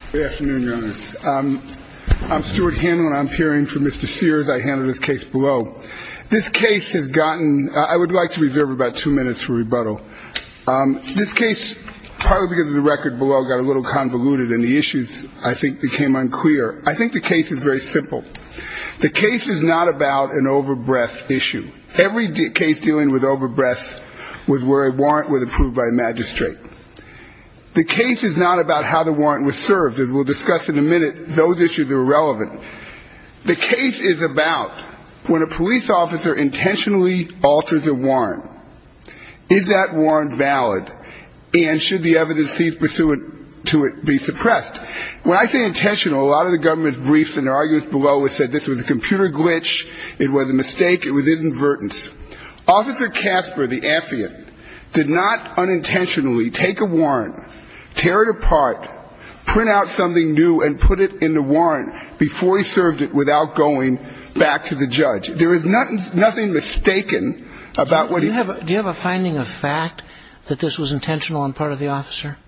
case below. This case has gotten I would like to reserve about two minutes for rebuttal. This case partly because the record below got a little convoluted and the issues I think became unclear. I think the case is very simple. The case is not about an overbreadth issue. Every case dealing with overbreadth was where a warrant was approved by a magistrate. The case is not about how the warrant was served. As we'll discuss in a minute, those issues are irrelevant. The case is about when a police officer intentionally alters a warrant, is that warrant valid and should the evidence pursuant to it be suppressed? When I say intentional, a lot of the government briefs and their arguments below it say this is a computer glitch, it was a mistake, it was inadvertence. Officer Kasper, the affidavit, did not unintentionally take a warrant, tear it apart, print out something new and put it in the warrant before he served it without going back to the judge. There is nothing mistaken about what he did. Do you have a finding of fact that this was intentional on part of the officer?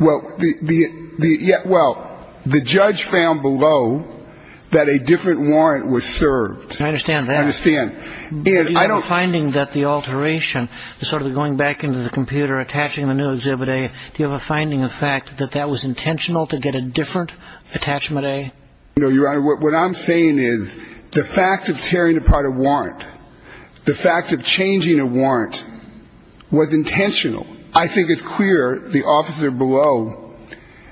Well, the judge found below that a different warrant was served. I understand that. I understand. Do you have a finding that the alteration, the sort of going back into the computer, attaching the new Exhibit A, do you have a finding of fact that that was intentional to get a different Attachment A? No, Your Honor. What I'm saying is the fact of tearing apart a warrant, the fact of changing a warrant was intentional. I think it's clear the officer below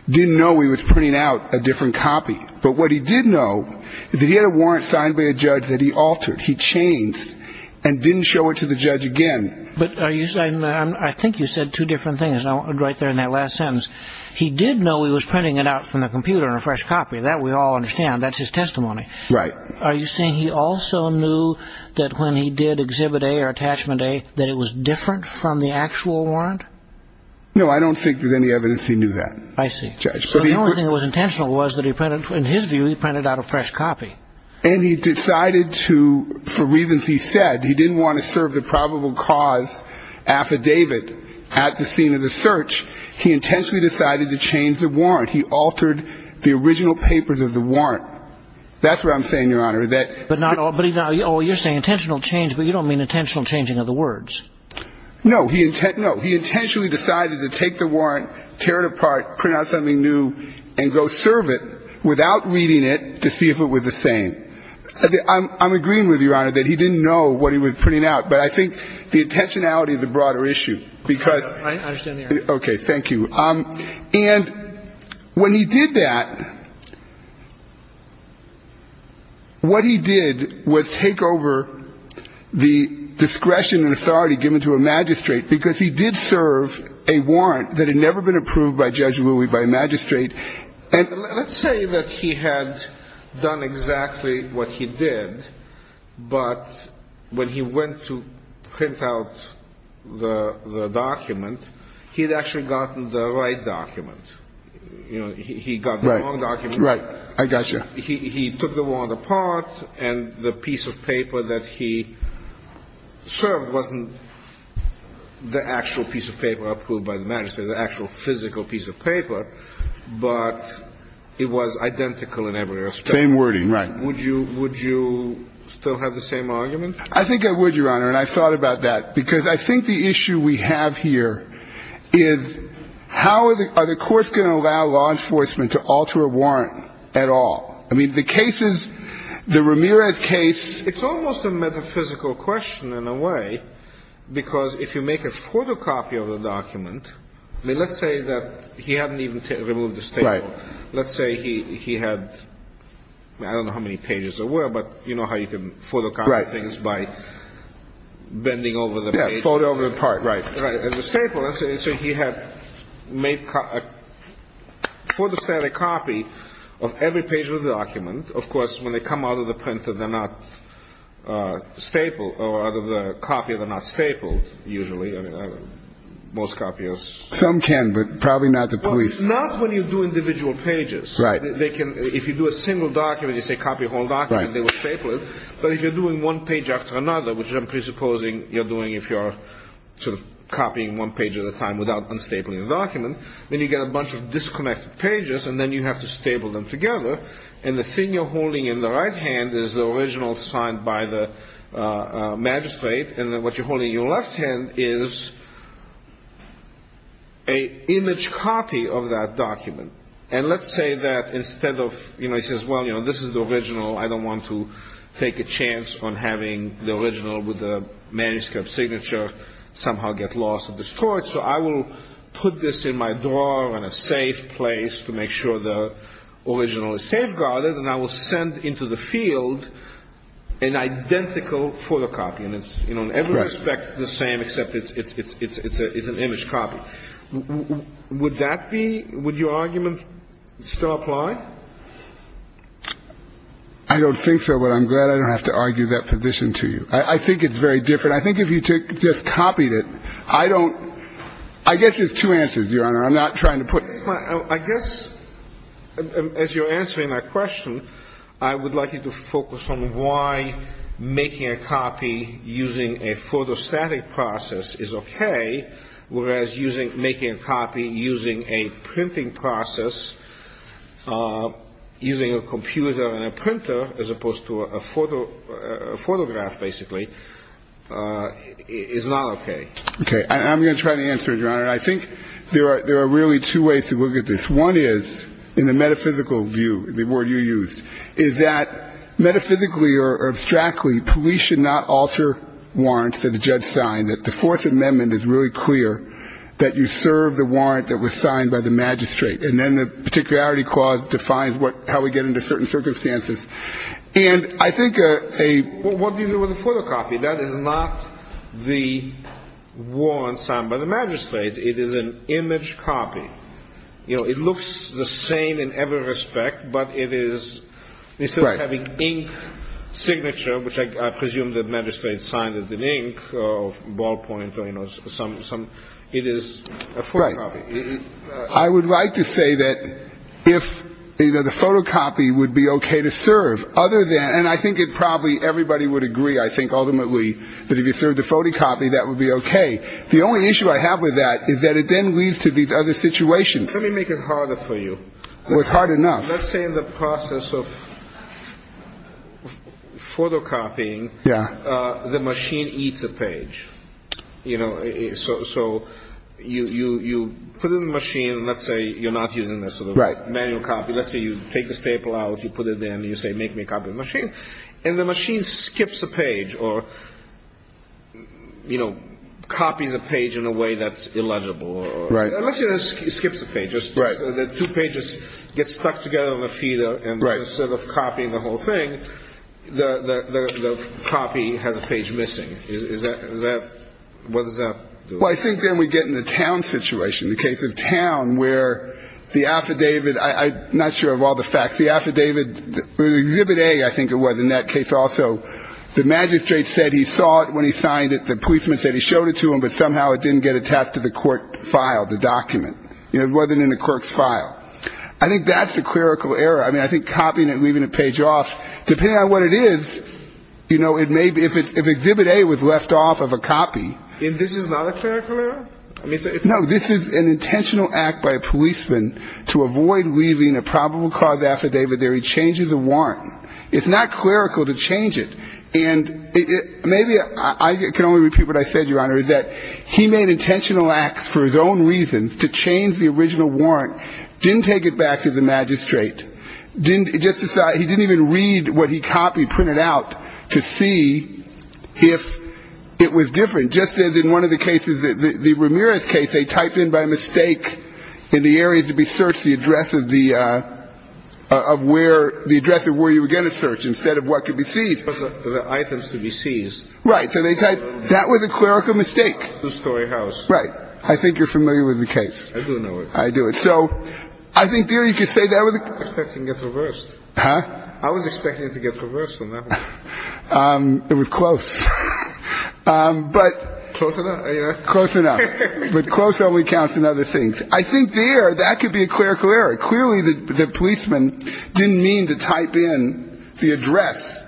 didn't know he was printing out a different copy. But what he did know is that he had a warrant signed by a judge that he altered, he changed, and didn't show it to the judge again. But I think you said two different things right there in that last sentence. He did know he was printing it out from the computer in a fresh copy. That we all understand. That's his testimony. Right. Are you saying he also knew that when he did Exhibit A or Attachment A that it was different from the actual warrant? No, I don't think there's any evidence he knew that, Judge. I see. So the only thing that was intentional was that in his view he printed out a fresh copy. And he decided to, for reasons he said, he didn't want to serve the probable cause affidavit at the scene of the search. He intentionally decided to change the warrant. He altered the original papers of the warrant. That's what I'm saying, Your Honor. But you're saying intentional change, but you don't mean intentional changing of the words. No. He intentionally decided to take the warrant, tear it apart, print out something new, and go serve it without reading it to see if it was the same. I'm agreeing with you, Your Honor, that he didn't know what he was printing out. But I think the intentionality is a broader issue. I understand the argument. Okay. Thank you. And when he did that, what he did was take over the discretion and authority given to a magistrate, because he did serve a warrant that had never been approved by Judge Louis by a magistrate. And let's say that he had done exactly what he did, but when he went to print out the document, he had actually gotten the right document. He got the wrong document. Right. I got you. He took the warrant apart, and the piece of paper that he served wasn't the actual piece of paper approved by the magistrate, the actual physical piece of paper, but it was identical in every respect. Same wording. Right. Would you still have the same argument? I think I would, Your Honor, and I thought about that. Because I think the issue we have here is how are the courts going to allow law enforcement to alter a warrant at all? I mean, the cases, the Ramirez case, it's almost a metaphysical question in a way, because if you make a photocopy of the document, I mean, let's say that he hadn't even removed the staple. Right. Let's say he had, I don't know how many pages there were, but you know how you can photocopy things by bending over the page. Yeah, fold over the part. Right. As a staple. So he had made a photostatic copy of every page of the document. And, of course, when they come out of the printer, they're not stapled or out of the copy, they're not stapled usually. I mean, most copiers. Some can, but probably not the police. Not when you do individual pages. Right. If you do a single document, you say copy a whole document, they will staple it. But if you're doing one page after another, which I'm presupposing you're doing if you're sort of copying one page at a time without unstapling the document, then you get a bunch of disconnected pages and then you have to staple them together. And the thing you're holding in the right hand is the original signed by the magistrate. And what you're holding in your left hand is an image copy of that document. And let's say that instead of, you know, he says, well, you know, this is the original. I don't want to take a chance on having the original with the manuscript signature somehow get lost or destroyed. So I will put this in my drawer in a safe place to make sure the original is safeguarded, and I will send into the field an identical photocopy. And it's, you know, in every respect the same except it's an image copy. Would that be ‑‑ would your argument still apply? I don't think so, but I'm glad I don't have to argue that position to you. I think it's very different. I think if you just copied it, I don't ‑‑ I guess there's two answers, Your Honor. I'm not trying to put ‑‑ I guess as you're answering that question, I would like you to focus on why making a copy using a photostatic process is okay, whereas making a copy using a printing process, using a computer and a printer, as opposed to a photograph, basically, is not okay. Okay. I'm going to try to answer it, Your Honor. I think there are really two ways to look at this. One is, in the metaphysical view, the word you used, is that metaphysically or abstractly police should not alter warrants that a judge signed, that the Fourth Amendment is really clear that you serve the warrant that was signed by the magistrate, and then the particularity clause defines how we get into certain circumstances. And I think a ‑‑ Well, what do you do with a photocopy? That is not the warrant signed by the magistrate. It is an image copy. You know, it looks the same in every respect, but it is, instead of having ink signature, which I presume the magistrate signed it in ink or ballpoint or, you know, some ‑‑ it is a photocopy. Right. I would like to say that if, you know, the photocopy would be okay to serve, other than, and I think probably everybody would agree, I think, ultimately, that if you serve the photocopy, that would be okay. The only issue I have with that is that it then leads to these other situations. Let me make it harder for you. Well, it's hard enough. Let's say in the process of photocopying, the machine eats a page. You know, so you put it in the machine. Let's say you're not using the sort of manual copy. Let's say you take this paper out, you put it in, and you say, make me a copy of the machine. And the machine skips a page or, you know, copies a page in a way that's illegible. Right. Unless it skips a page. Right. The two pages get stuck together on the feeder. Right. And instead of copying the whole thing, the copy has a page missing. What does that do? Well, I think then we get in a town situation, the case of town, where the affidavit, I'm not sure of all the facts. The affidavit, Exhibit A, I think it was in that case also, the magistrate said he saw it when he signed it. The policeman said he showed it to him, but somehow it didn't get attached to the court file, the document. You know, it wasn't in the clerk's file. I think that's a clerical error. I mean, I think copying it and leaving a page off, depending on what it is, you know, it may be, if Exhibit A was left off of a copy. And this is not a clerical error? No, this is an intentional act by a policeman to avoid leaving a probable cause affidavit there. He changes a warrant. It's not clerical to change it. And maybe I can only repeat what I said, Your Honor, is that he made intentional acts for his own reasons to change the original warrant, didn't take it back to the magistrate, didn't just decide, he didn't even read what he copied, printed out, to see if it was different. Just as in one of the cases, the Ramirez case, they typed in by mistake in the areas to be searched the address of the, of where, the address of where you were going to search instead of what could be seized. The items to be seized. Right. So they typed, that was a clerical mistake. Right. I think you're familiar with the case. I do know it. I do it. So I think there you could say that was. I was expecting it to get reversed. Huh? I was expecting it to get reversed on that one. It was close. But. Close enough? Close enough. But close only counts in other things. I think there, that could be a clerical error. Clearly the policeman didn't mean to type in the address.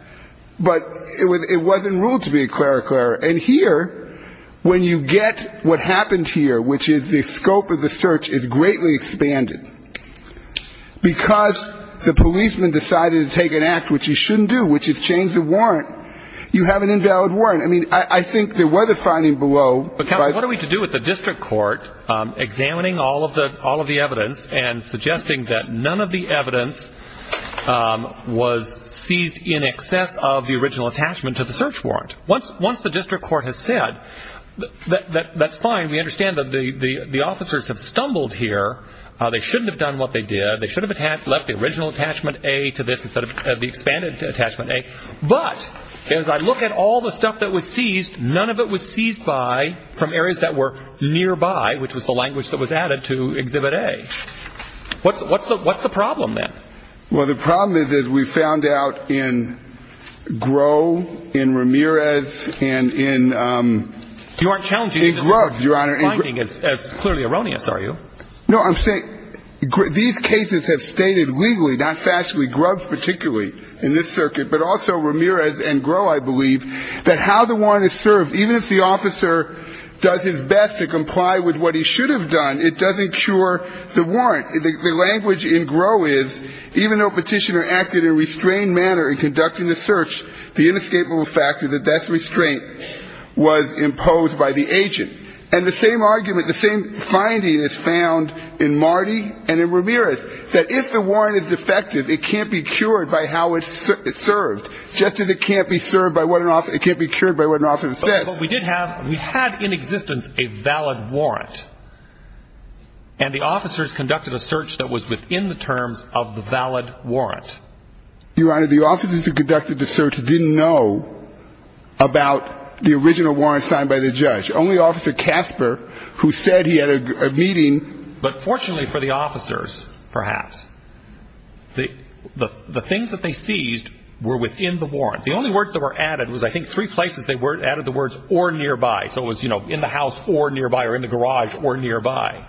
But it wasn't ruled to be a clerical error. And here, when you get what happened here, which is the scope of the search is greatly expanded. Because the policeman decided to take an act which he shouldn't do, which is change the warrant, you have an invalid warrant. I mean, I think there was a finding below. But, Counsel, what are we to do with the district court examining all of the, all of the evidence and suggesting that none of the evidence was seized in excess of the original attachment to the search warrant? Once the district court has said, that's fine. We understand that the officers have stumbled here. They shouldn't have done what they did. They should have left the original attachment A to this instead of the expanded attachment A. But as I look at all the stuff that was seized, none of it was seized by from areas that were nearby, which was the language that was added to Exhibit A. What's the problem then? Well, the problem is, as we found out in Groh, in Ramirez, and in Grubb, Your Honor. You aren't challenging the finding as clearly erroneous, are you? No, I'm saying these cases have stated legally, not factually, Grubb particularly in this circuit, but also Ramirez and Groh, I believe, that how the warrant is served, even if the officer does his best to comply with what he should have done, it doesn't cure the warrant. The language in Groh is, even though Petitioner acted in a restrained manner in conducting the search, the inescapable fact is that that restraint was imposed by the agent. And the same argument, the same finding is found in Marty and in Ramirez, that if the warrant is defective, it can't be cured by how it's served, just as it can't be cured by what an officer says. But we did have, we had in existence a valid warrant. And the officers conducted a search that was within the terms of the valid warrant. Your Honor, the officers who conducted the search didn't know about the original warrant signed by the judge. Only Officer Casper, who said he had a meeting. But fortunately for the officers, perhaps, the things that they seized were within the warrant. The only words that were added was, I think, three places they added the words, or nearby. So it was, you know, in the house, or nearby, or in the garage, or nearby.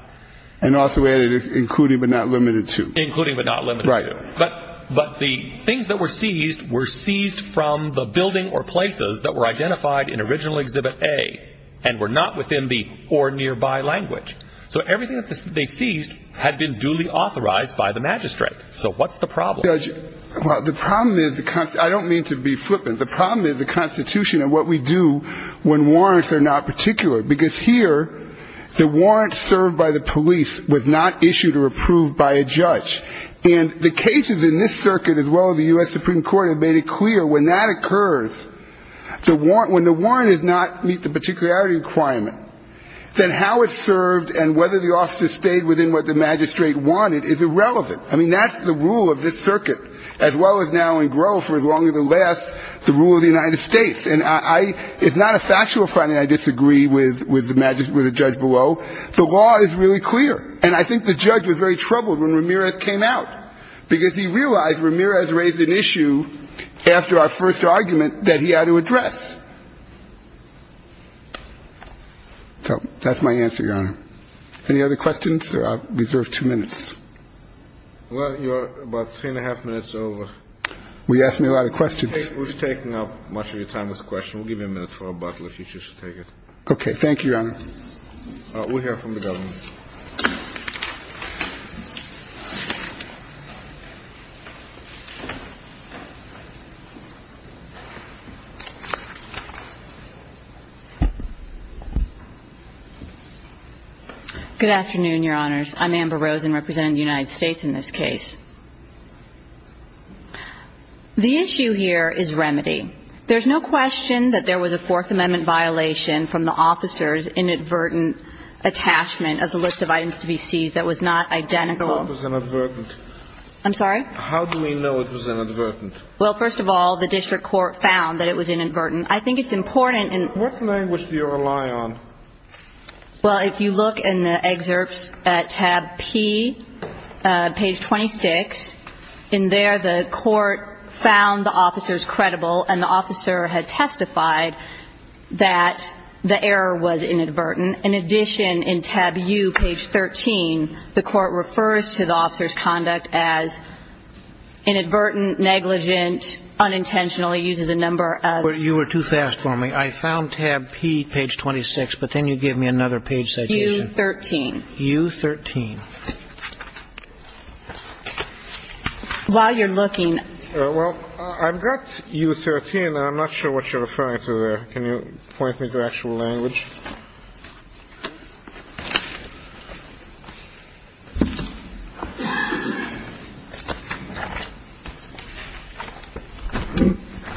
And also added, including but not limited to. Including but not limited to. Right. But the things that were seized were seized from the building or places that were identified in original Exhibit A and were not within the or nearby language. So everything that they seized had been duly authorized by the magistrate. So what's the problem? Well, the problem is, I don't mean to be flippant. The problem is the Constitution and what we do when warrants are not particular. Because here, the warrant served by the police was not issued or approved by a judge. And the cases in this circuit, as well as the U.S. Supreme Court, have made it clear when that occurs, when the warrant does not meet the particularity requirement, then how it's served and whether the officer stayed within what the magistrate wanted is irrelevant. I mean, that's the rule of this circuit, as well as now and grow for as long as it lasts, the rule of the United States. And I — it's not a factual finding I disagree with the judge below. The law is really clear. And I think the judge was very troubled when Ramirez came out, because he realized Ramirez raised an issue after our first argument that he had to address. So that's my answer, Your Honor. Any other questions? If there are, I reserve two minutes. Well, you're about three and a half minutes over. Well, you asked me a lot of questions. We've taken up much of your time with this question. We'll give you a minute for a bottle if you choose to take it. Okay. Thank you, Your Honor. We'll hear from the government. Good afternoon, Your Honors. I'm Amber Rosen, representing the United States in this case. The issue here is remedy. There's no question that there was a Fourth Amendment violation from the officer's inadvertent attachment of the Fourth Amendment with a list of items to be seized that was not identical. How was it inadvertent? I'm sorry? How do we know it was inadvertent? Well, first of all, the district court found that it was inadvertent. I think it's important in — What language do you rely on? Well, if you look in the excerpts at tab P, page 26, in there the court found the officers credible, and the officer had testified that the error was inadvertent. In addition, in tab U, page 13, the court refers to the officer's conduct as inadvertent, negligent, unintentional. It uses a number of — You were too fast for me. I found tab P, page 26, but then you give me another page citation. U13. U13. While you're looking — Well, I've got U13, and I'm not sure what you're referring to there. Can you point me to actual language?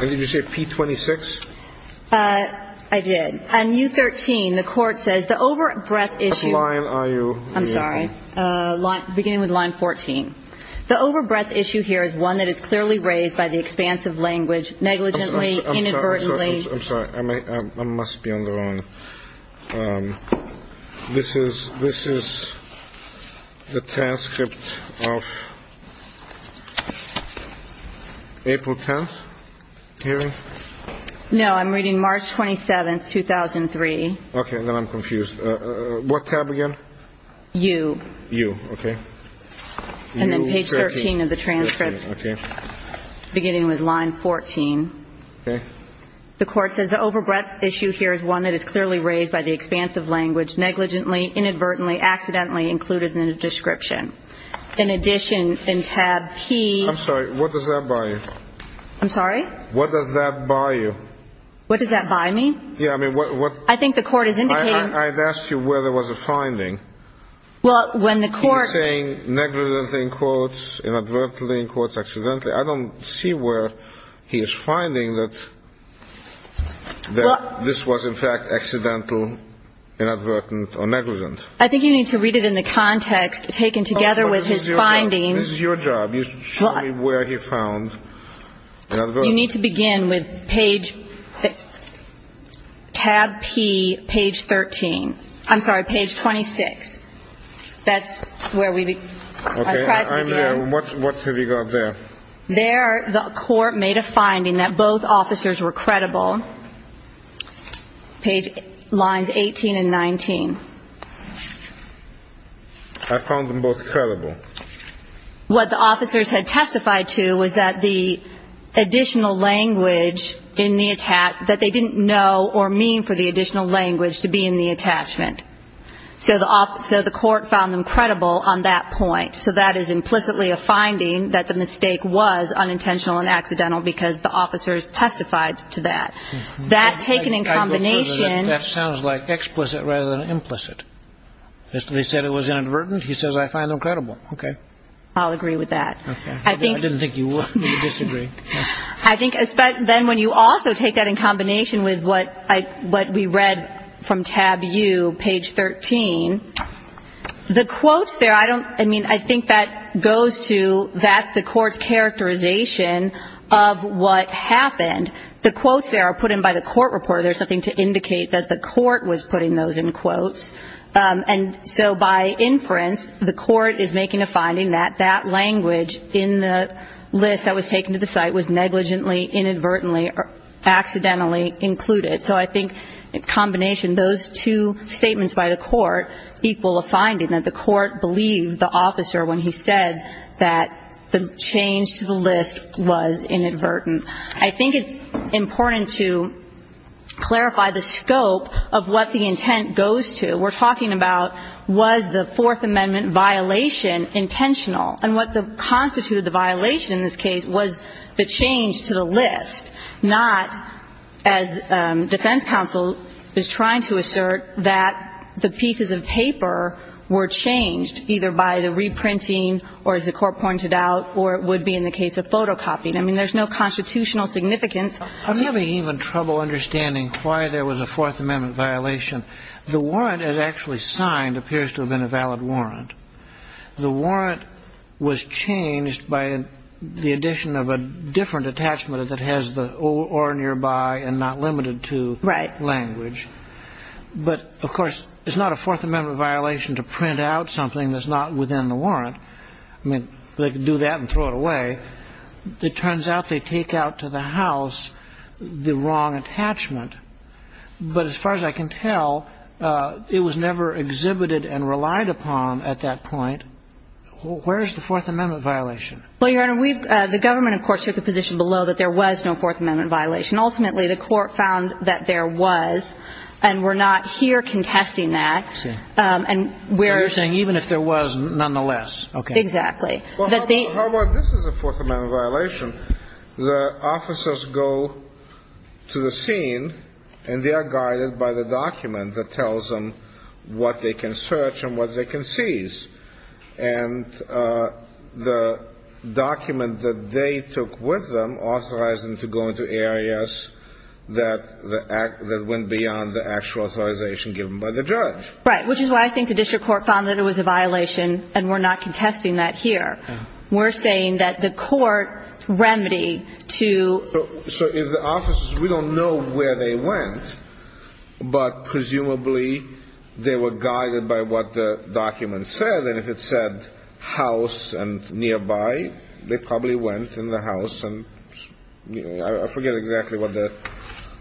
Did you say P26? I did. On U13, the court says the over-breath issue — What line are you — I'm sorry. Beginning with line 14. The over-breath issue here is one that is clearly raised by the expanse of language, negligently, inadvertently — I'm sorry. I must be on the wrong. This is the transcript of April 10th hearing? No, I'm reading March 27th, 2003. Okay. Then I'm confused. What tab again? U. U. Okay. And then page 13 of the transcript, beginning with line 14. Okay. The court says the over-breath issue here is one that is clearly raised by the expanse of language, negligently, inadvertently, accidentally included in the description. In addition, in tab P — I'm sorry. What does that bar you? I'm sorry? What does that bar you? What does that bar me? Yeah. I mean, what — I think the court is indicating — I asked you where there was a finding. Well, when the court — You're saying negligently in quotes, inadvertently in quotes, accidentally. I don't see where he is finding that this was, in fact, accidental, inadvertent or negligent. I think you need to read it in the context taken together with his findings. This is your job. You should show me where he found inadvertently. You need to begin with page — tab P, page 13. I'm sorry, page 26. That's where we — Okay. I'm there. And what have you got there? There, the court made a finding that both officers were credible, page lines 18 and 19. I found them both credible. What the officers had testified to was that the additional language in the — that they didn't know or mean for the additional language to be in the attachment. So the court found them credible on that point. So that is implicitly a finding that the mistake was unintentional and accidental because the officers testified to that. That taken in combination — I prefer that that sounds like explicit rather than implicit. They said it was inadvertent. He says I find them credible. Okay. I'll agree with that. Okay. I didn't think you would. I disagree. I think then when you also take that in combination with what we read from tab U, page 13, the quotes there — I mean, I think that goes to that's the court's characterization of what happened. The quotes there are put in by the court reporter. There's nothing to indicate that the court was putting those in quotes. And so by inference, the court is making a finding that that language in the list that was taken to the site was negligently, inadvertently, or accidentally included. So I think in combination, those two statements by the court equal a finding, that the court believed the officer when he said that the change to the list was inadvertent. I think it's important to clarify the scope of what the intent goes to. We're talking about was the Fourth Amendment violation intentional. And what constituted the violation in this case was the change to the list, not as defense counsel is trying to assert that the pieces of paper were changed either by the reprinting or, as the court pointed out, or it would be in the case of photocopying. I mean, there's no constitutional significance. I'm having even trouble understanding why there was a Fourth Amendment violation. The warrant it actually signed appears to have been a valid warrant. The warrant was changed by the addition of a different attachment that has the or nearby and not limited to language. Right. But, of course, it's not a Fourth Amendment violation to print out something that's not within the warrant. I mean, they could do that and throw it away. It turns out they take out to the house the wrong attachment. But as far as I can tell, it was never exhibited and relied upon at that point. Where is the Fourth Amendment violation? Well, Your Honor, we've the government, of course, took a position below that there was no Fourth Amendment violation. Ultimately, the court found that there was, and we're not here contesting that. I see. And where. Okay. Exactly. Well, how about this is a Fourth Amendment violation. The officers go to the scene and they are guided by the document that tells them what they can search and what they can seize. And the document that they took with them authorized them to go into areas that went beyond the actual authorization given by the judge. Right. Which is why I think the district court found that it was a violation, and we're not contesting that here. We're saying that the court remedied to. So if the officers, we don't know where they went, but presumably they were guided by what the document said. And if it said house and nearby, they probably went in the house. And I forget exactly what the.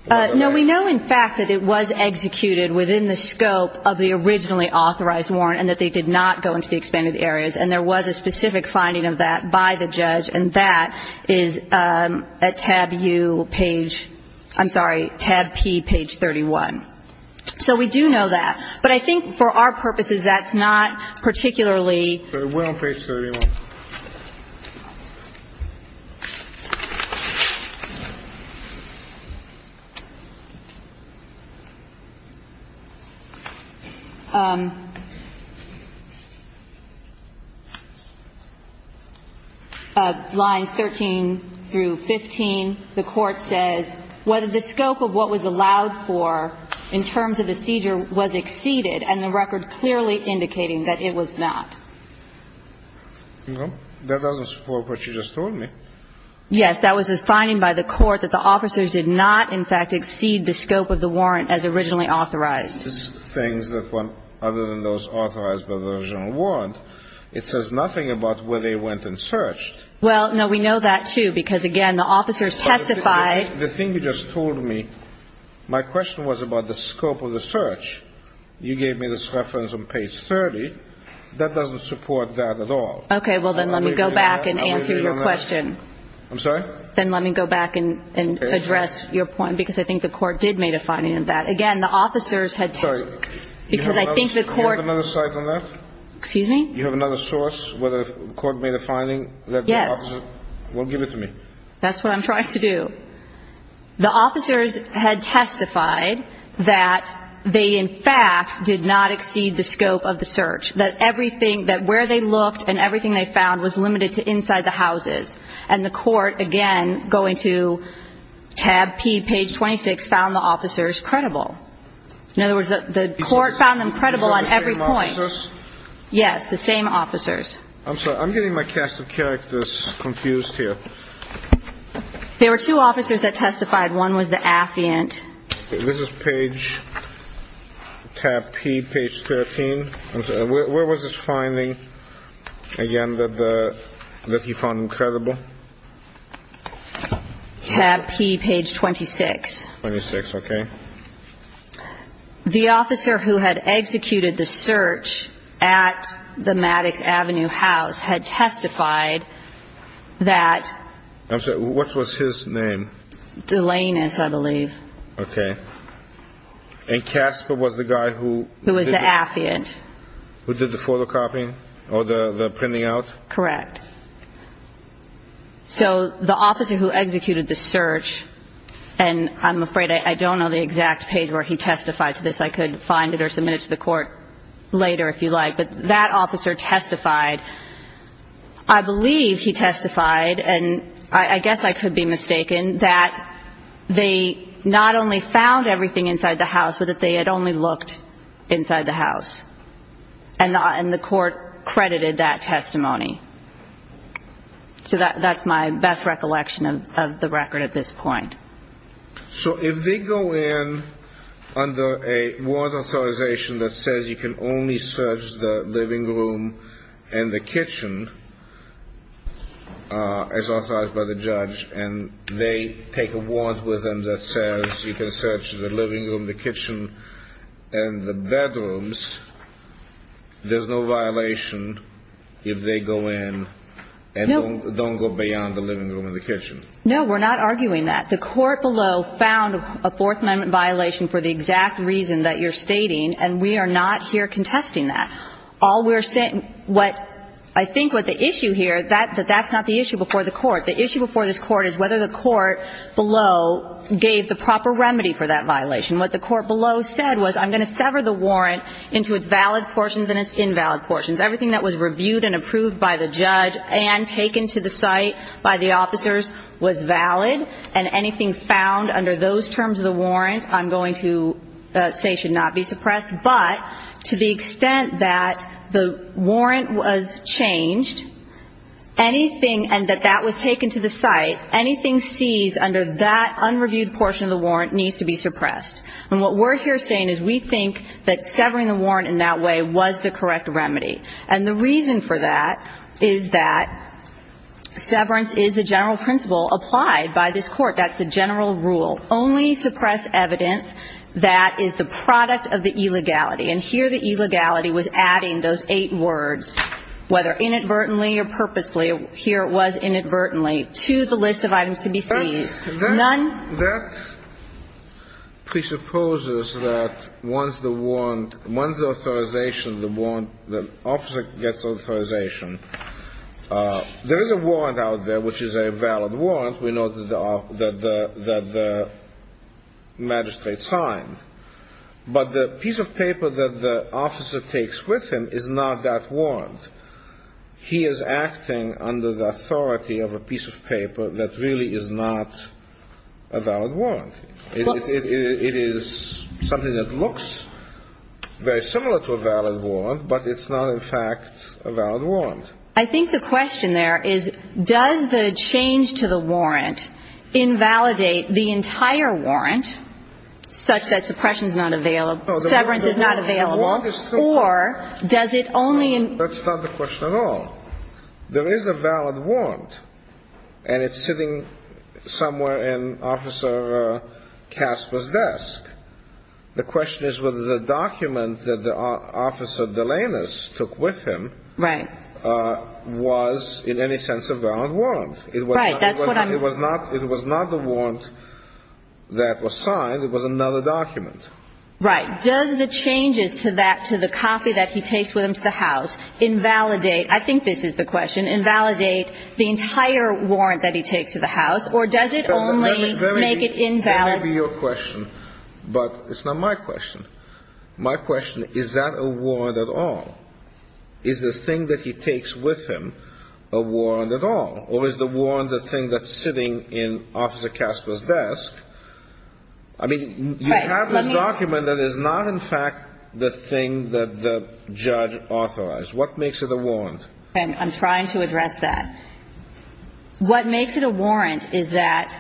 No, we know, in fact, that it was executed within the scope of the originally authorized warrant and that they did not go into the expanded areas. And there was a specific finding of that by the judge. And that is a tab you page. I'm sorry. Tab P page 31. So we do know that. But I think for our purposes, that's not particularly. Line 13 through 15, the court says whether the scope of what was allowed for in terms of the seizure was exceeded and the record clearly indicating that it was not. No, that doesn't support what you just told me. Yes, that was a finding by the court that the officers did not, in fact, exceed the scope of the warrant as originally authorized. Things that went other than those authorized by the original warrant. It says nothing about where they went and searched. Well, no, we know that, too, because, again, the officers testified. The thing you just told me, my question was about the scope of the search. You gave me this reference on page 30. That doesn't support that at all. Okay, well, then let me go back and answer your question. I'm sorry? Then let me go back and address your point, because I think the court did make a finding of that. Again, the officers had testified. Sorry. Because I think the court. Do you have another site on that? Excuse me? Do you have another source where the court made a finding that the officers. Yes. Well, give it to me. That's what I'm trying to do. The officers had testified that they, in fact, did not exceed the scope of the search, that everything, that where they looked and everything they found was limited to inside the houses. And the court, again, going to tab P, page 26, found the officers credible. In other words, the court found them credible on every point. Yes, the same officers. I'm sorry. I'm getting my cast of characters confused here. There were two officers that testified. One was the affiant. This is page, tab P, page 13. Where was this finding, again, that you found credible? Tab P, page 26. 26, okay. The officer who had executed the search at the Maddox Avenue house had testified that. I'm sorry. What was his name? Delanus, I believe. Okay. And Casper was the guy who. Who was the affiant. Who did the photocopying or the printing out? Correct. So the officer who executed the search, and I'm afraid I don't know the exact page where he testified to this. I could find it or submit it to the court later if you like. But that officer testified. I believe he testified, and I guess I could be mistaken, that they not only found everything inside the house, but that they had only looked inside the house. And the court credited that testimony. So that's my best recollection of the record at this point. So if they go in under a warrant authorization that says you can only search the living room and the kitchen, as authorized by the judge, and they take a warrant with them that says you can search the living room, the kitchen, and the bedrooms, there's no violation if they go in and don't go beyond the living room and the kitchen? No, we're not arguing that. The court below found a Fourth Amendment violation for the exact reason that you're stating, and we are not here contesting that. All we're saying what I think what the issue here, that's not the issue before the court. The issue before this court is whether the court below gave the proper remedy for that violation. What the court below said was I'm going to sever the warrant into its valid portions and its invalid portions. Everything that was reviewed and approved by the judge and taken to the site by the officers was valid, and anything found under those terms of the warrant I'm going to say should not be suppressed. But to the extent that the warrant was changed, anything, and that that was taken to the site, anything seized under that unreviewed portion of the warrant needs to be suppressed. And what we're here saying is we think that severing the warrant in that way was the correct remedy. And the reason for that is that severance is the general principle applied by this court. That's the general rule. Only suppress evidence that is the product of the illegality. And here the illegality was adding those eight words, whether inadvertently or purposefully, here it was inadvertently, to the list of items to be seized. None ---- Officer gets authorization. There is a warrant out there which is a valid warrant. We know that the magistrate signed. But the piece of paper that the officer takes with him is not that warrant. He is acting under the authority of a piece of paper that really is not a valid warrant. It is something that looks very similar to a valid warrant, but it's not in fact a valid warrant. I think the question there is does the change to the warrant invalidate the entire warrant such that suppression is not available, severance is not available, or does it only ---- That's not the question at all. There is a valid warrant. And it's sitting somewhere in Officer Casper's desk. The question is whether the document that Officer Delanus took with him was in any sense a valid warrant. Right. That's what I'm ---- It was not the warrant that was signed. It was another document. Right. Does the changes to that, to the copy that he takes with him to the house, invalidate ---- Does it invalidate the entire warrant that he takes to the house, or does it only make it invalid? That may be your question, but it's not my question. My question, is that a warrant at all? Is the thing that he takes with him a warrant at all? Or is the warrant the thing that's sitting in Officer Casper's desk? I mean, you have this document that is not in fact the thing that the judge authorized. What makes it a warrant? And I'm trying to address that. What makes it a warrant is that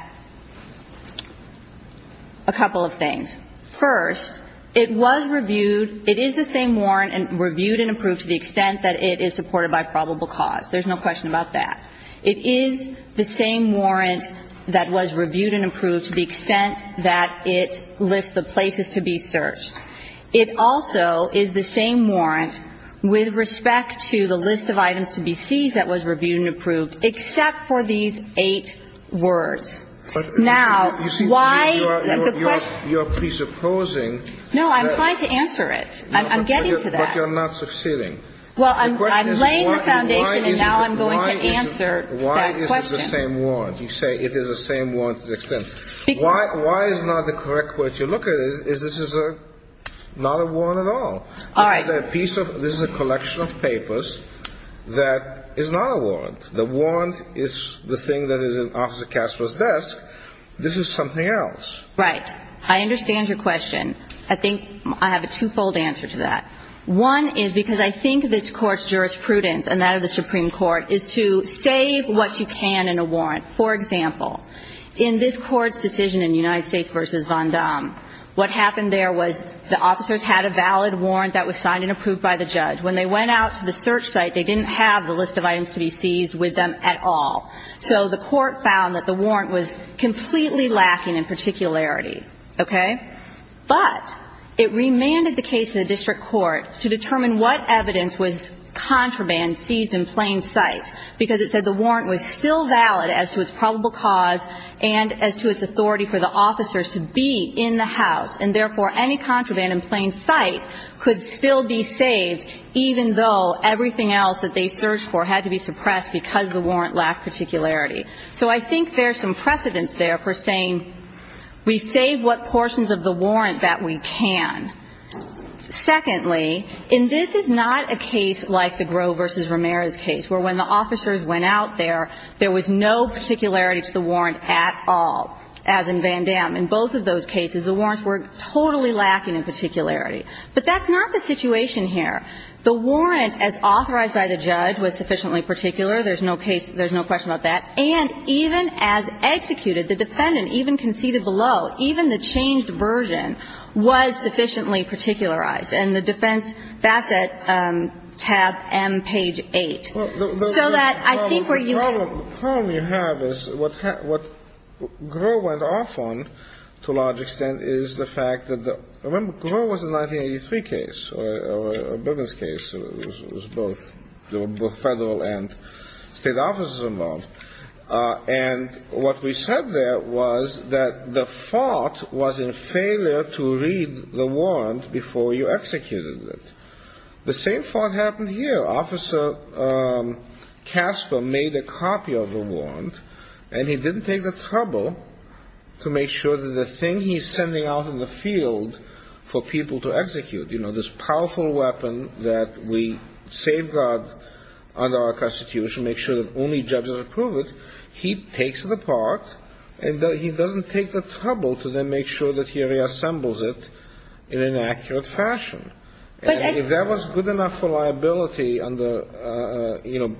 a couple of things. First, it was reviewed. It is the same warrant reviewed and approved to the extent that it is supported by probable cause. There's no question about that. It is the same warrant that was reviewed and approved to the extent that it lists the places to be searched. It also is the same warrant with respect to the list of items to be seized that was reviewed and approved, except for these eight words. Now, why is the question ---- You're presupposing that ---- No, I'm trying to answer it. I'm getting to that. But you're not succeeding. Well, I'm laying the foundation, and now I'm going to answer that question. Why is it the same warrant? You say it is the same warrant to the extent. Why is not the correct way to look at it is this is not a warrant at all. All right. This is a collection of papers that is not a warrant. The warrant is the thing that is in Officer Castro's desk. This is something else. Right. I understand your question. I think I have a twofold answer to that. One is because I think this Court's jurisprudence and that of the Supreme Court is to save what you can in a warrant. For example, in this Court's decision in United States v. Vondam, what happened there was the officers had a valid warrant that was signed and approved by the judge. When they went out to the search site, they didn't have the list of items to be seized with them at all. So the Court found that the warrant was completely lacking in particularity. Okay? But it remanded the case to the district court to determine what evidence was contraband, seized in plain sight, because it said the warrant was still valid as to its probable cause and as to its authority for the officers to be in the house. And, therefore, any contraband in plain sight could still be saved, even though everything else that they searched for had to be suppressed because the warrant lacked particularity. So I think there's some precedence there for saying we save what portions of the warrant that we can. Secondly, and this is not a case like the Grove v. Ramirez case, where when the officers went out there, there was no particularity to the warrant at all, as in Vondam. In both of those cases, the warrants were totally lacking in particularity. But that's not the situation here. The warrant, as authorized by the judge, was sufficiently particular. There's no case – there's no question about that. And even as executed, the defendant even conceded below. Even the changed version was sufficiently particularized. And the defense facet, tab M, page 8. So that I think where you have – The problem you have is what Grove went off on, to a large extent, is the fact that the – remember, Grove was a 1983 case, or a Bergen's case. It was both – there were both Federal and State offices involved. And what we said there was that the fault was in failure to read the warrant before you executed it. The same fault happened here. Officer Casper made a copy of the warrant, and he didn't take the trouble to make sure that the thing he's sending out in the field for people to execute, you know, this powerful weapon that we safeguard under our Constitution, make sure that only judges approve it. He takes it apart, and he doesn't take the trouble to then make sure that he reassembles it in an accurate fashion. And if that was good enough for liability under – you know,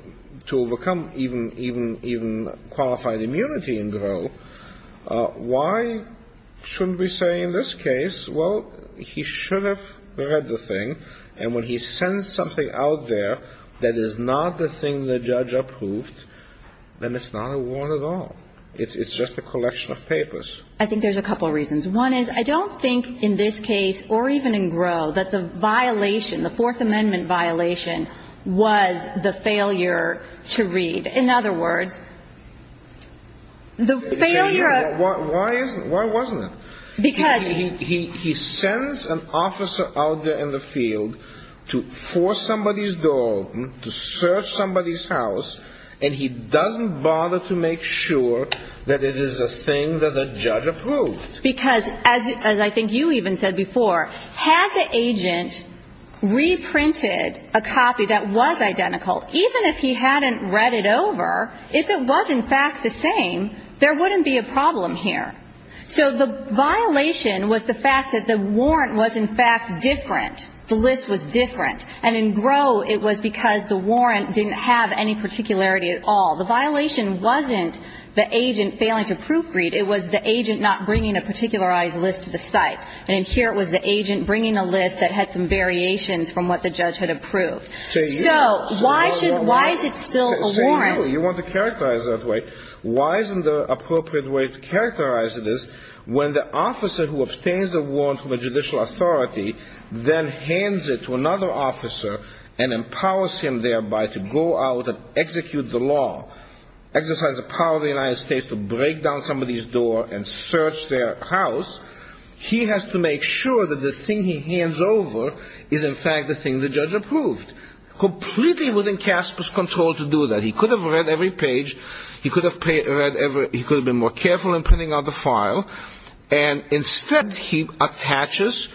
to overcome even qualified immunity in Grove, why shouldn't we say in this case, well, he should have read the thing. And when he sends something out there that is not the thing the judge approved, then it's not a warrant at all. It's just a collection of papers. I think there's a couple reasons. One is I don't think in this case, or even in Grove, that the violation, the Fourth Amendment violation, was the failure to read. In other words, the failure of – Why isn't – why wasn't it? Because – He sends an officer out there in the field to force somebody's door open, to search somebody's house, and he doesn't bother to make sure that it is a thing that the judge approved. Because, as I think you even said before, had the agent reprinted a copy that was identical, even if he hadn't read it over, if it was in fact the same, there wouldn't be a problem here. So the violation was the fact that the warrant was in fact different. The list was different. And in Grove, it was because the warrant didn't have any particularity at all. The violation wasn't the agent failing to proofread. It was the agent not bringing a particularized list to the site. And in here, it was the agent bringing a list that had some variations from what the judge had approved. So why should – why is it still a warrant? Say no. You want to characterize it that way. Why isn't the appropriate way to characterize it is when the officer who obtains a warrant from a judicial authority then hands it to another officer and empowers him thereby to go out and execute the law, exercise the power of the United States to break down somebody's door and search their house, he has to make sure that the thing he hands over is in fact the thing the judge approved. Completely within Casper's control to do that. He could have read every page. He could have read every – he could have been more careful in printing out the file. And instead, he attaches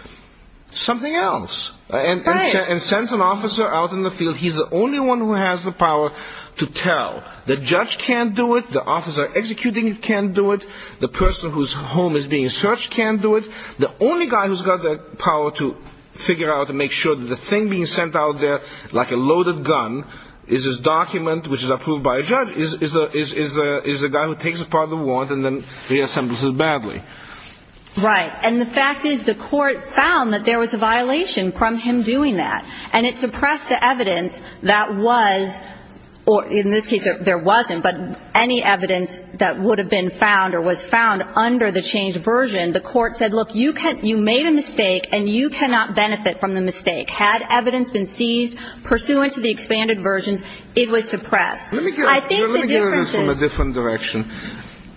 something else and sends an officer out in the field. He's the only one who has the power to tell. The judge can't do it. The officer executing it can't do it. The person whose home is being searched can't do it. The only guy who's got the power to figure out and make sure that the thing being sent out there like a loaded gun is his document, which is approved by a judge, is the guy who takes apart the warrant and then reassembles it badly. Right. And the fact is the court found that there was a violation from him doing that. And it suppressed the evidence that was – or in this case there wasn't, but any evidence that would have been found or was found under the changed version. The court said, look, you made a mistake and you cannot benefit from the mistake. Had evidence been seized pursuant to the expanded versions, it was suppressed. I think the difference is – Let me get at it from a different direction.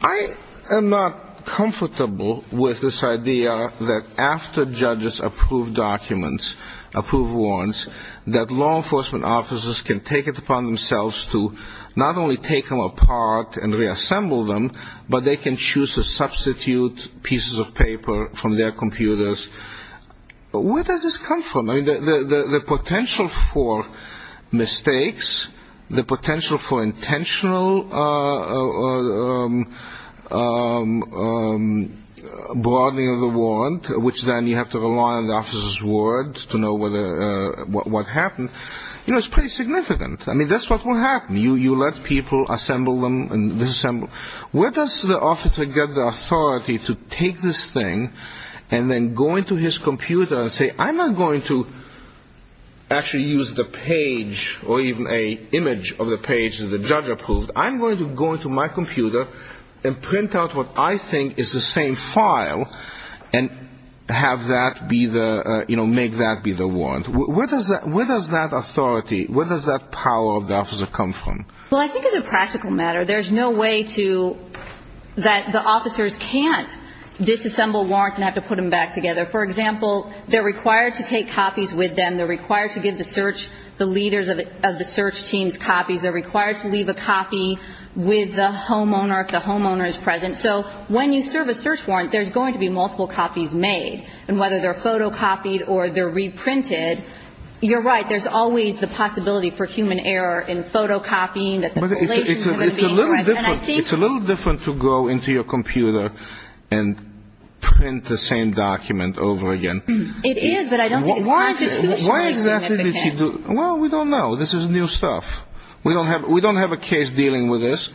I am not comfortable with this idea that after judges approve documents, approve warrants, that law enforcement officers can take it upon themselves to not only take them apart and reassemble them, but they can choose to substitute pieces of paper from their computers. Where does this come from? I mean, the potential for mistakes, the potential for intentional broadening of the warrant, which then you have to rely on the officer's words to know what happened, you know, is pretty significant. I mean, that's what will happen. You let people assemble them and disassemble. Where does the officer get the authority to take this thing and then go into his computer and say, I'm not going to actually use the page or even an image of the page that the judge approved. I'm going to go into my computer and print out what I think is the same file and have that be the – you know, make that be the warrant. Where does that authority, where does that power of the officer come from? Well, I think as a practical matter, there's no way to – that the officers can't disassemble warrants and have to put them back together. For example, they're required to take copies with them. They're required to give the search – the leaders of the search teams copies. They're required to leave a copy with the homeowner if the homeowner is present. So when you serve a search warrant, there's going to be multiple copies made. And whether they're photocopied or they're reprinted, you're right, there's always the possibility for human error in photocopying. But it's a little different. It's a little different to go into your computer and print the same document over again. It is, but I don't think it's – Why exactly does he do – well, we don't know. This is new stuff. We don't have a case dealing with this.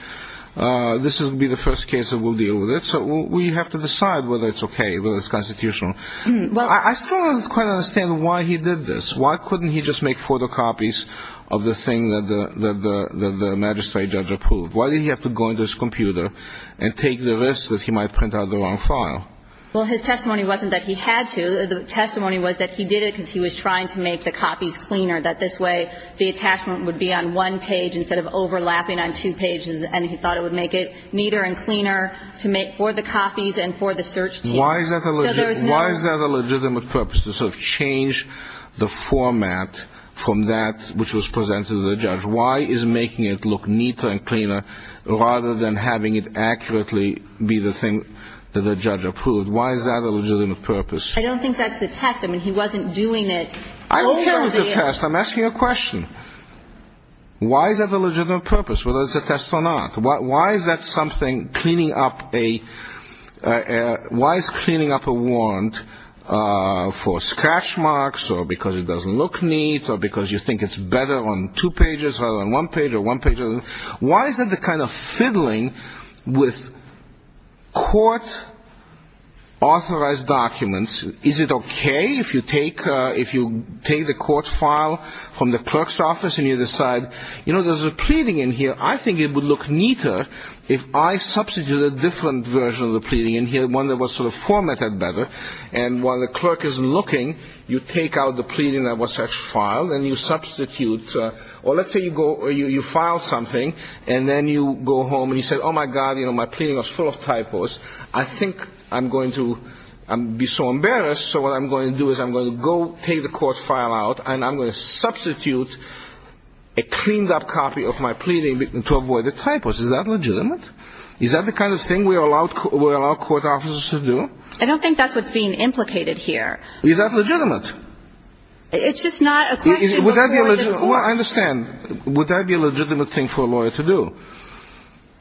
This will be the first case that we'll deal with it. So we have to decide whether it's okay, whether it's constitutional. I still don't quite understand why he did this. Why couldn't he just make photocopies of the thing that the magistrate judge approved? Why did he have to go into his computer and take the risk that he might print out the wrong file? Well, his testimony wasn't that he had to. The testimony was that he did it because he was trying to make the copies cleaner, that this way the attachment would be on one page instead of overlapping on two pages, and he thought it would make it neater and cleaner to make for the copies and for the search teams. Why is that a legitimate purpose, to sort of change the format from that which was presented to the judge? Why is making it look neater and cleaner rather than having it accurately be the thing that the judge approved? Why is that a legitimate purpose? I don't think that's the test. I mean, he wasn't doing it – I hope that was the test. I'm asking a question. Why is that a legitimate purpose, whether it's a test or not? Why is that something cleaning up a – why is cleaning up a warrant for scratch marks or because it doesn't look neat or because you think it's better on two pages rather than one page or one page – why is that the kind of fiddling with court-authorized documents? Is it okay if you take the court file from the clerk's office and you decide, you know, there's a pleading in here. I think it would look neater if I substituted a different version of the pleading in here, one that was sort of formatted better, and while the clerk isn't looking you take out the pleading that was actually filed and you substitute – or let's say you file something and then you go home and you say, oh, my God, my pleading was full of typos. I think I'm going to be so embarrassed, so what I'm going to do is I'm going to go take the court file out and I'm going to substitute a cleaned-up copy of my pleading to avoid the typos. Is that legitimate? Is that the kind of thing we allow court officers to do? I don't think that's what's being implicated here. Is that legitimate? It's just not a question. Well, I understand. Would that be a legitimate thing for a lawyer to do?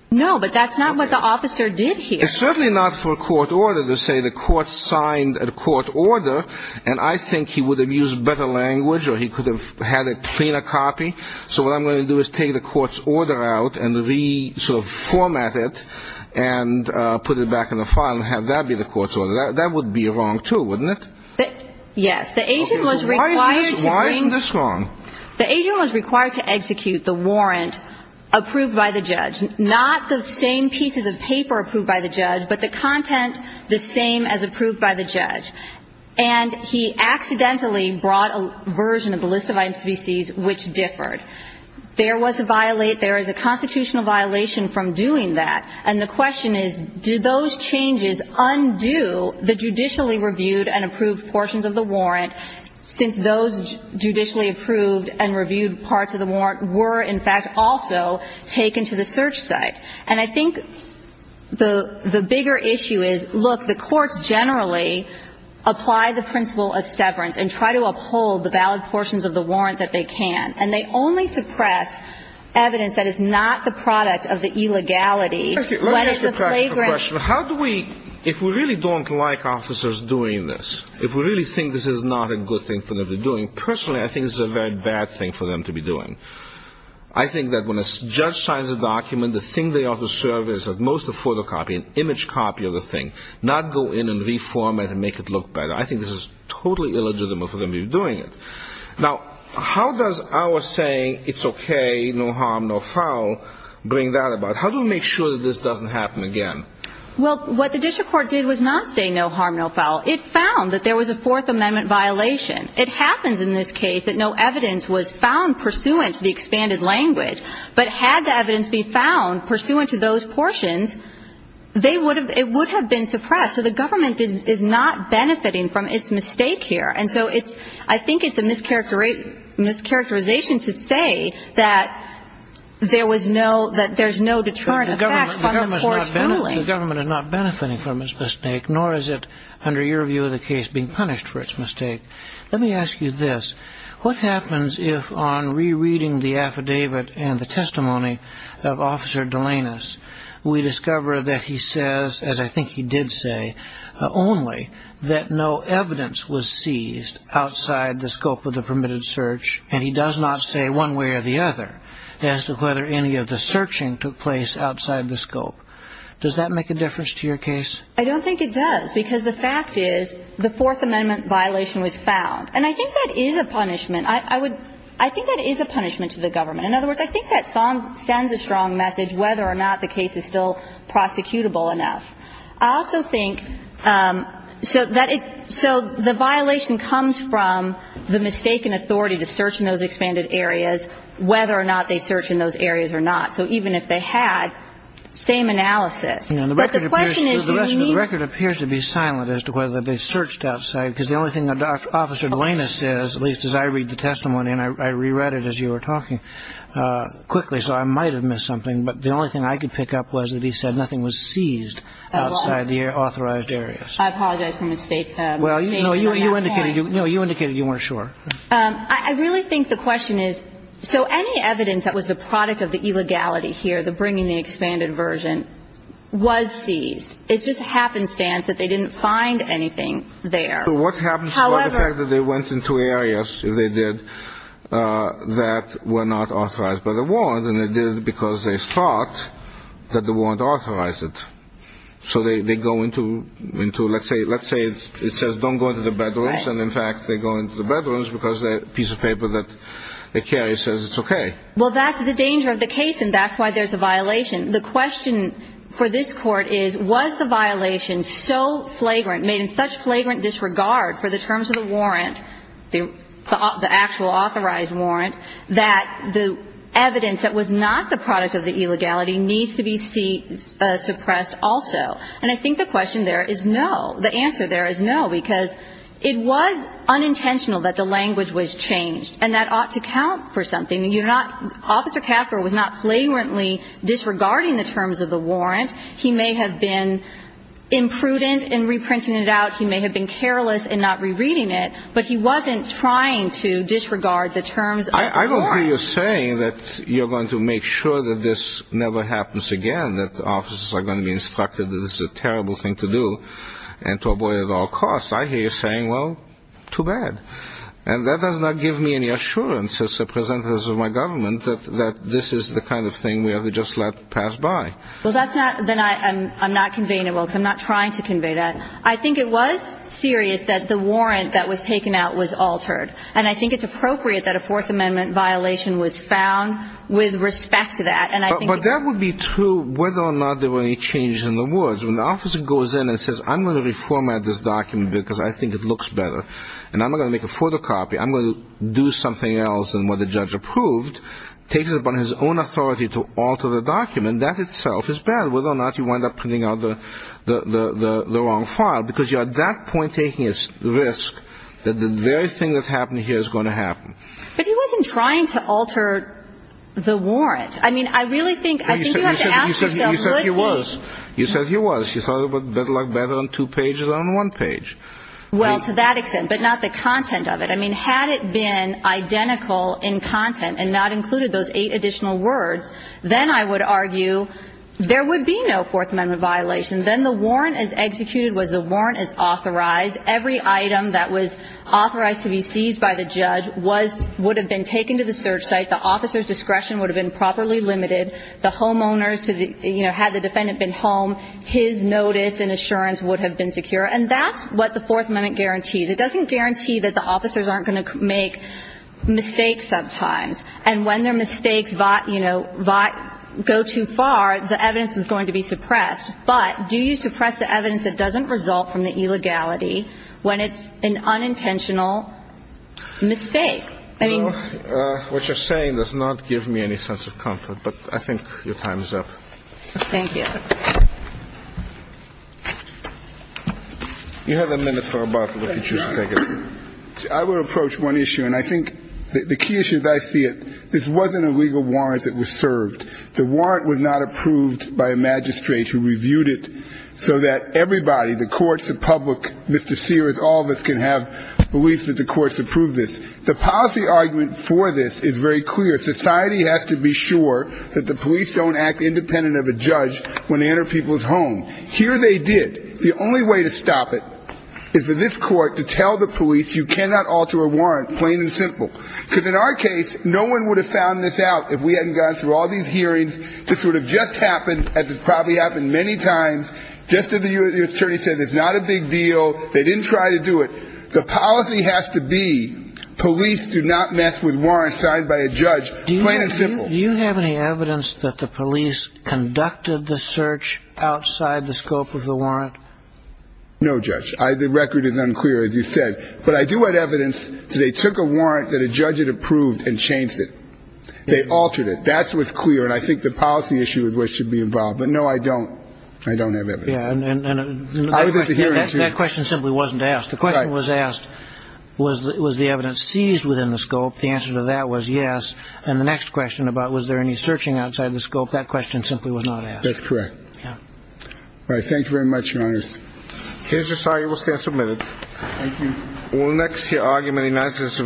No, but that's not what the officer did here. It's certainly not for a court order to say the court signed a court order and I think he would have used better language or he could have had a cleaner copy, so what I'm going to do is take the court's order out and reformat it and put it back in the file and have that be the court's order. That would be wrong, too, wouldn't it? Yes. Why is this wrong? The agent was required to execute the warrant approved by the judge, not the same pieces of paper approved by the judge, but the content the same as approved by the judge. And he accidentally brought a version of the list of items to be seized which differed. There was a violate. There is a constitutional violation from doing that. And the question is, did those changes undo the judicially reviewed and approved portions of the warrant since those judicially approved and reviewed parts of the warrant were, in fact, also taken to the search site? And I think the bigger issue is, look, the courts generally apply the principle of severance and try to uphold the valid portions of the warrant that they can. And they only suppress evidence that is not the product of the illegality. Let me ask you a question. How do we, if we really don't like officers doing this, if we really think this is not a good thing for them to be doing, personally I think this is a very bad thing for them to be doing. I think that when a judge signs a document, the thing they ought to serve is at most a photocopy, an image copy of the thing, not go in and reform it and make it look better. I think this is totally illegitimate for them to be doing it. Now, how does our saying, it's okay, no harm, no foul, bring that about? How do we make sure that this doesn't happen again? Well, what the district court did was not say no harm, no foul. It found that there was a Fourth Amendment violation. It happens in this case that no evidence was found pursuant to the expanded language. But had the evidence be found pursuant to those portions, they would have, it would have been suppressed. So the government is not benefiting from its mistake here. And so it's, I think it's a mischaracterization to say that there was no, that there's no deterrent effect from the court's ruling. The government is not benefiting from its mistake, nor is it, under your view of the case, being punished for its mistake. Let me ask you this. What happens if on rereading the affidavit and the testimony of Officer Delanus, we discover that he says, as I think he did say, only that no evidence was seized outside the scope of the permitted search, and he does not say one way or the other as to whether any of the searching took place outside the scope. Does that make a difference to your case? I don't think it does, because the fact is the Fourth Amendment violation was found. And I think that is a punishment. I would, I think that is a punishment to the government. In other words, I think that sends a strong message whether or not the case is still prosecutable enough. I also think, so that it, so the violation comes from the mistaken authority to search in those expanded areas, whether or not they search in those areas or not. So even if they had, same analysis. The record appears to be silent as to whether they searched outside, because the only thing that Officer Delanus says, at least as I read the testimony, and I reread it as you were talking quickly, so I might have missed something, but the only thing I could pick up was that he said nothing was seized outside the authorized areas. I apologize for the mistake. No, you indicated you weren't sure. I really think the question is, so any evidence that was the product of the illegality here, the bringing the expanded version, was seized. It's just happenstance that they didn't find anything there. So what happens to the fact that they went into areas, if they did, that were not authorized by the warrant, and they did it because they thought that the warrant authorized it. So they go into, let's say it says don't go into the bedrooms, and in fact they go into the bedrooms because the piece of paper that they carry says it's okay. Well, that's the danger of the case, and that's why there's a violation. The question for this Court is, was the violation so flagrant, made in such flagrant disregard for the terms of the warrant, the actual authorized warrant, that the evidence that was not the product of the illegality needs to be seized, suppressed also? And I think the question there is no. The answer there is no, because it was unintentional that the language was changed, and that ought to count for something. Officer Castro was not flagrantly disregarding the terms of the warrant. He may have been imprudent in reprinting it out. He may have been careless in not rereading it, but he wasn't trying to disregard the terms of the warrant. I don't hear you saying that you're going to make sure that this never happens again, that the officers are going to be instructed that this is a terrible thing to do, and to avoid it at all costs. I hear you saying, well, too bad. And that does not give me any assurance, as the president of my government, that this is the kind of thing we ought to just let pass by. Well, that's not, then I'm not conveying it well, because I'm not trying to convey that. I think it was serious that the warrant that was taken out was altered, and I think it's appropriate that a Fourth Amendment violation was found with respect to that. But that would be true whether or not there were any changes in the words. When the officer goes in and says, I'm going to reformat this document because I think it looks better, and I'm going to make a photocopy, I'm going to do something else than what the judge approved, takes it upon his own authority to alter the document, that itself is bad, whether or not you wind up printing out the wrong file, because you're at that point taking a risk that the very thing that happened here is going to happen. But he wasn't trying to alter the warrant. I mean, I really think you have to ask yourself, would he? You said he was. You said he was. You thought it looked better on two pages than on one page. Well, to that extent, but not the content of it. I mean, had it been identical in content and not included those eight additional words, then I would argue there would be no Fourth Amendment violation. Then the warrant as executed was the warrant as authorized. Every item that was authorized to be seized by the judge would have been taken to the search site. The officer's discretion would have been properly limited. The homeowners, had the defendant been home, his notice and assurance would have been secure. And that's what the Fourth Amendment guarantees. It doesn't guarantee that the officers aren't going to make mistakes sometimes. And when their mistakes, you know, go too far, the evidence is going to be suppressed. But do you suppress the evidence that doesn't result from the illegality when it's an unintentional mistake? I mean. What you're saying does not give me any sense of comfort, but I think your time is up. Thank you. You have a minute for a break if you choose to take it. I would approach one issue, and I think the key issue as I see it, this wasn't a legal warrant that was served. The warrant was not approved by a magistrate who reviewed it so that everybody, the courts, the public, Mr. Sears, all of us can have beliefs that the courts approved this. The policy argument for this is very clear. Society has to be sure that the police don't act independent of a judge when they enter people's homes. Here they did. The only way to stop it is for this court to tell the police you cannot alter a warrant, plain and simple. Because in our case, no one would have found this out if we hadn't gone through all these hearings. This would have just happened, as has probably happened many times. Just as the U.S. Attorney said, it's not a big deal. They didn't try to do it. The policy has to be police do not mess with warrants signed by a judge, plain and simple. Do you have any evidence that the police conducted the search outside the scope of the warrant? No, Judge. The record is unclear, as you said. But I do have evidence that they took a warrant that a judge had approved and changed it. They altered it. That's what's clear, and I think the policy issue with which you'd be involved. But, no, I don't. I don't have evidence. I was at the hearing, too. That question simply wasn't asked. The question was asked, was the evidence seized within the scope? The answer to that was yes. And the next question about was there any searching outside the scope, that question simply was not asked. That's correct. Yeah. All right. Thank you very much, Your Honors. Case is sorted. We'll stand submitted. Thank you. We'll next hear argument in the United States of America. Here I give you.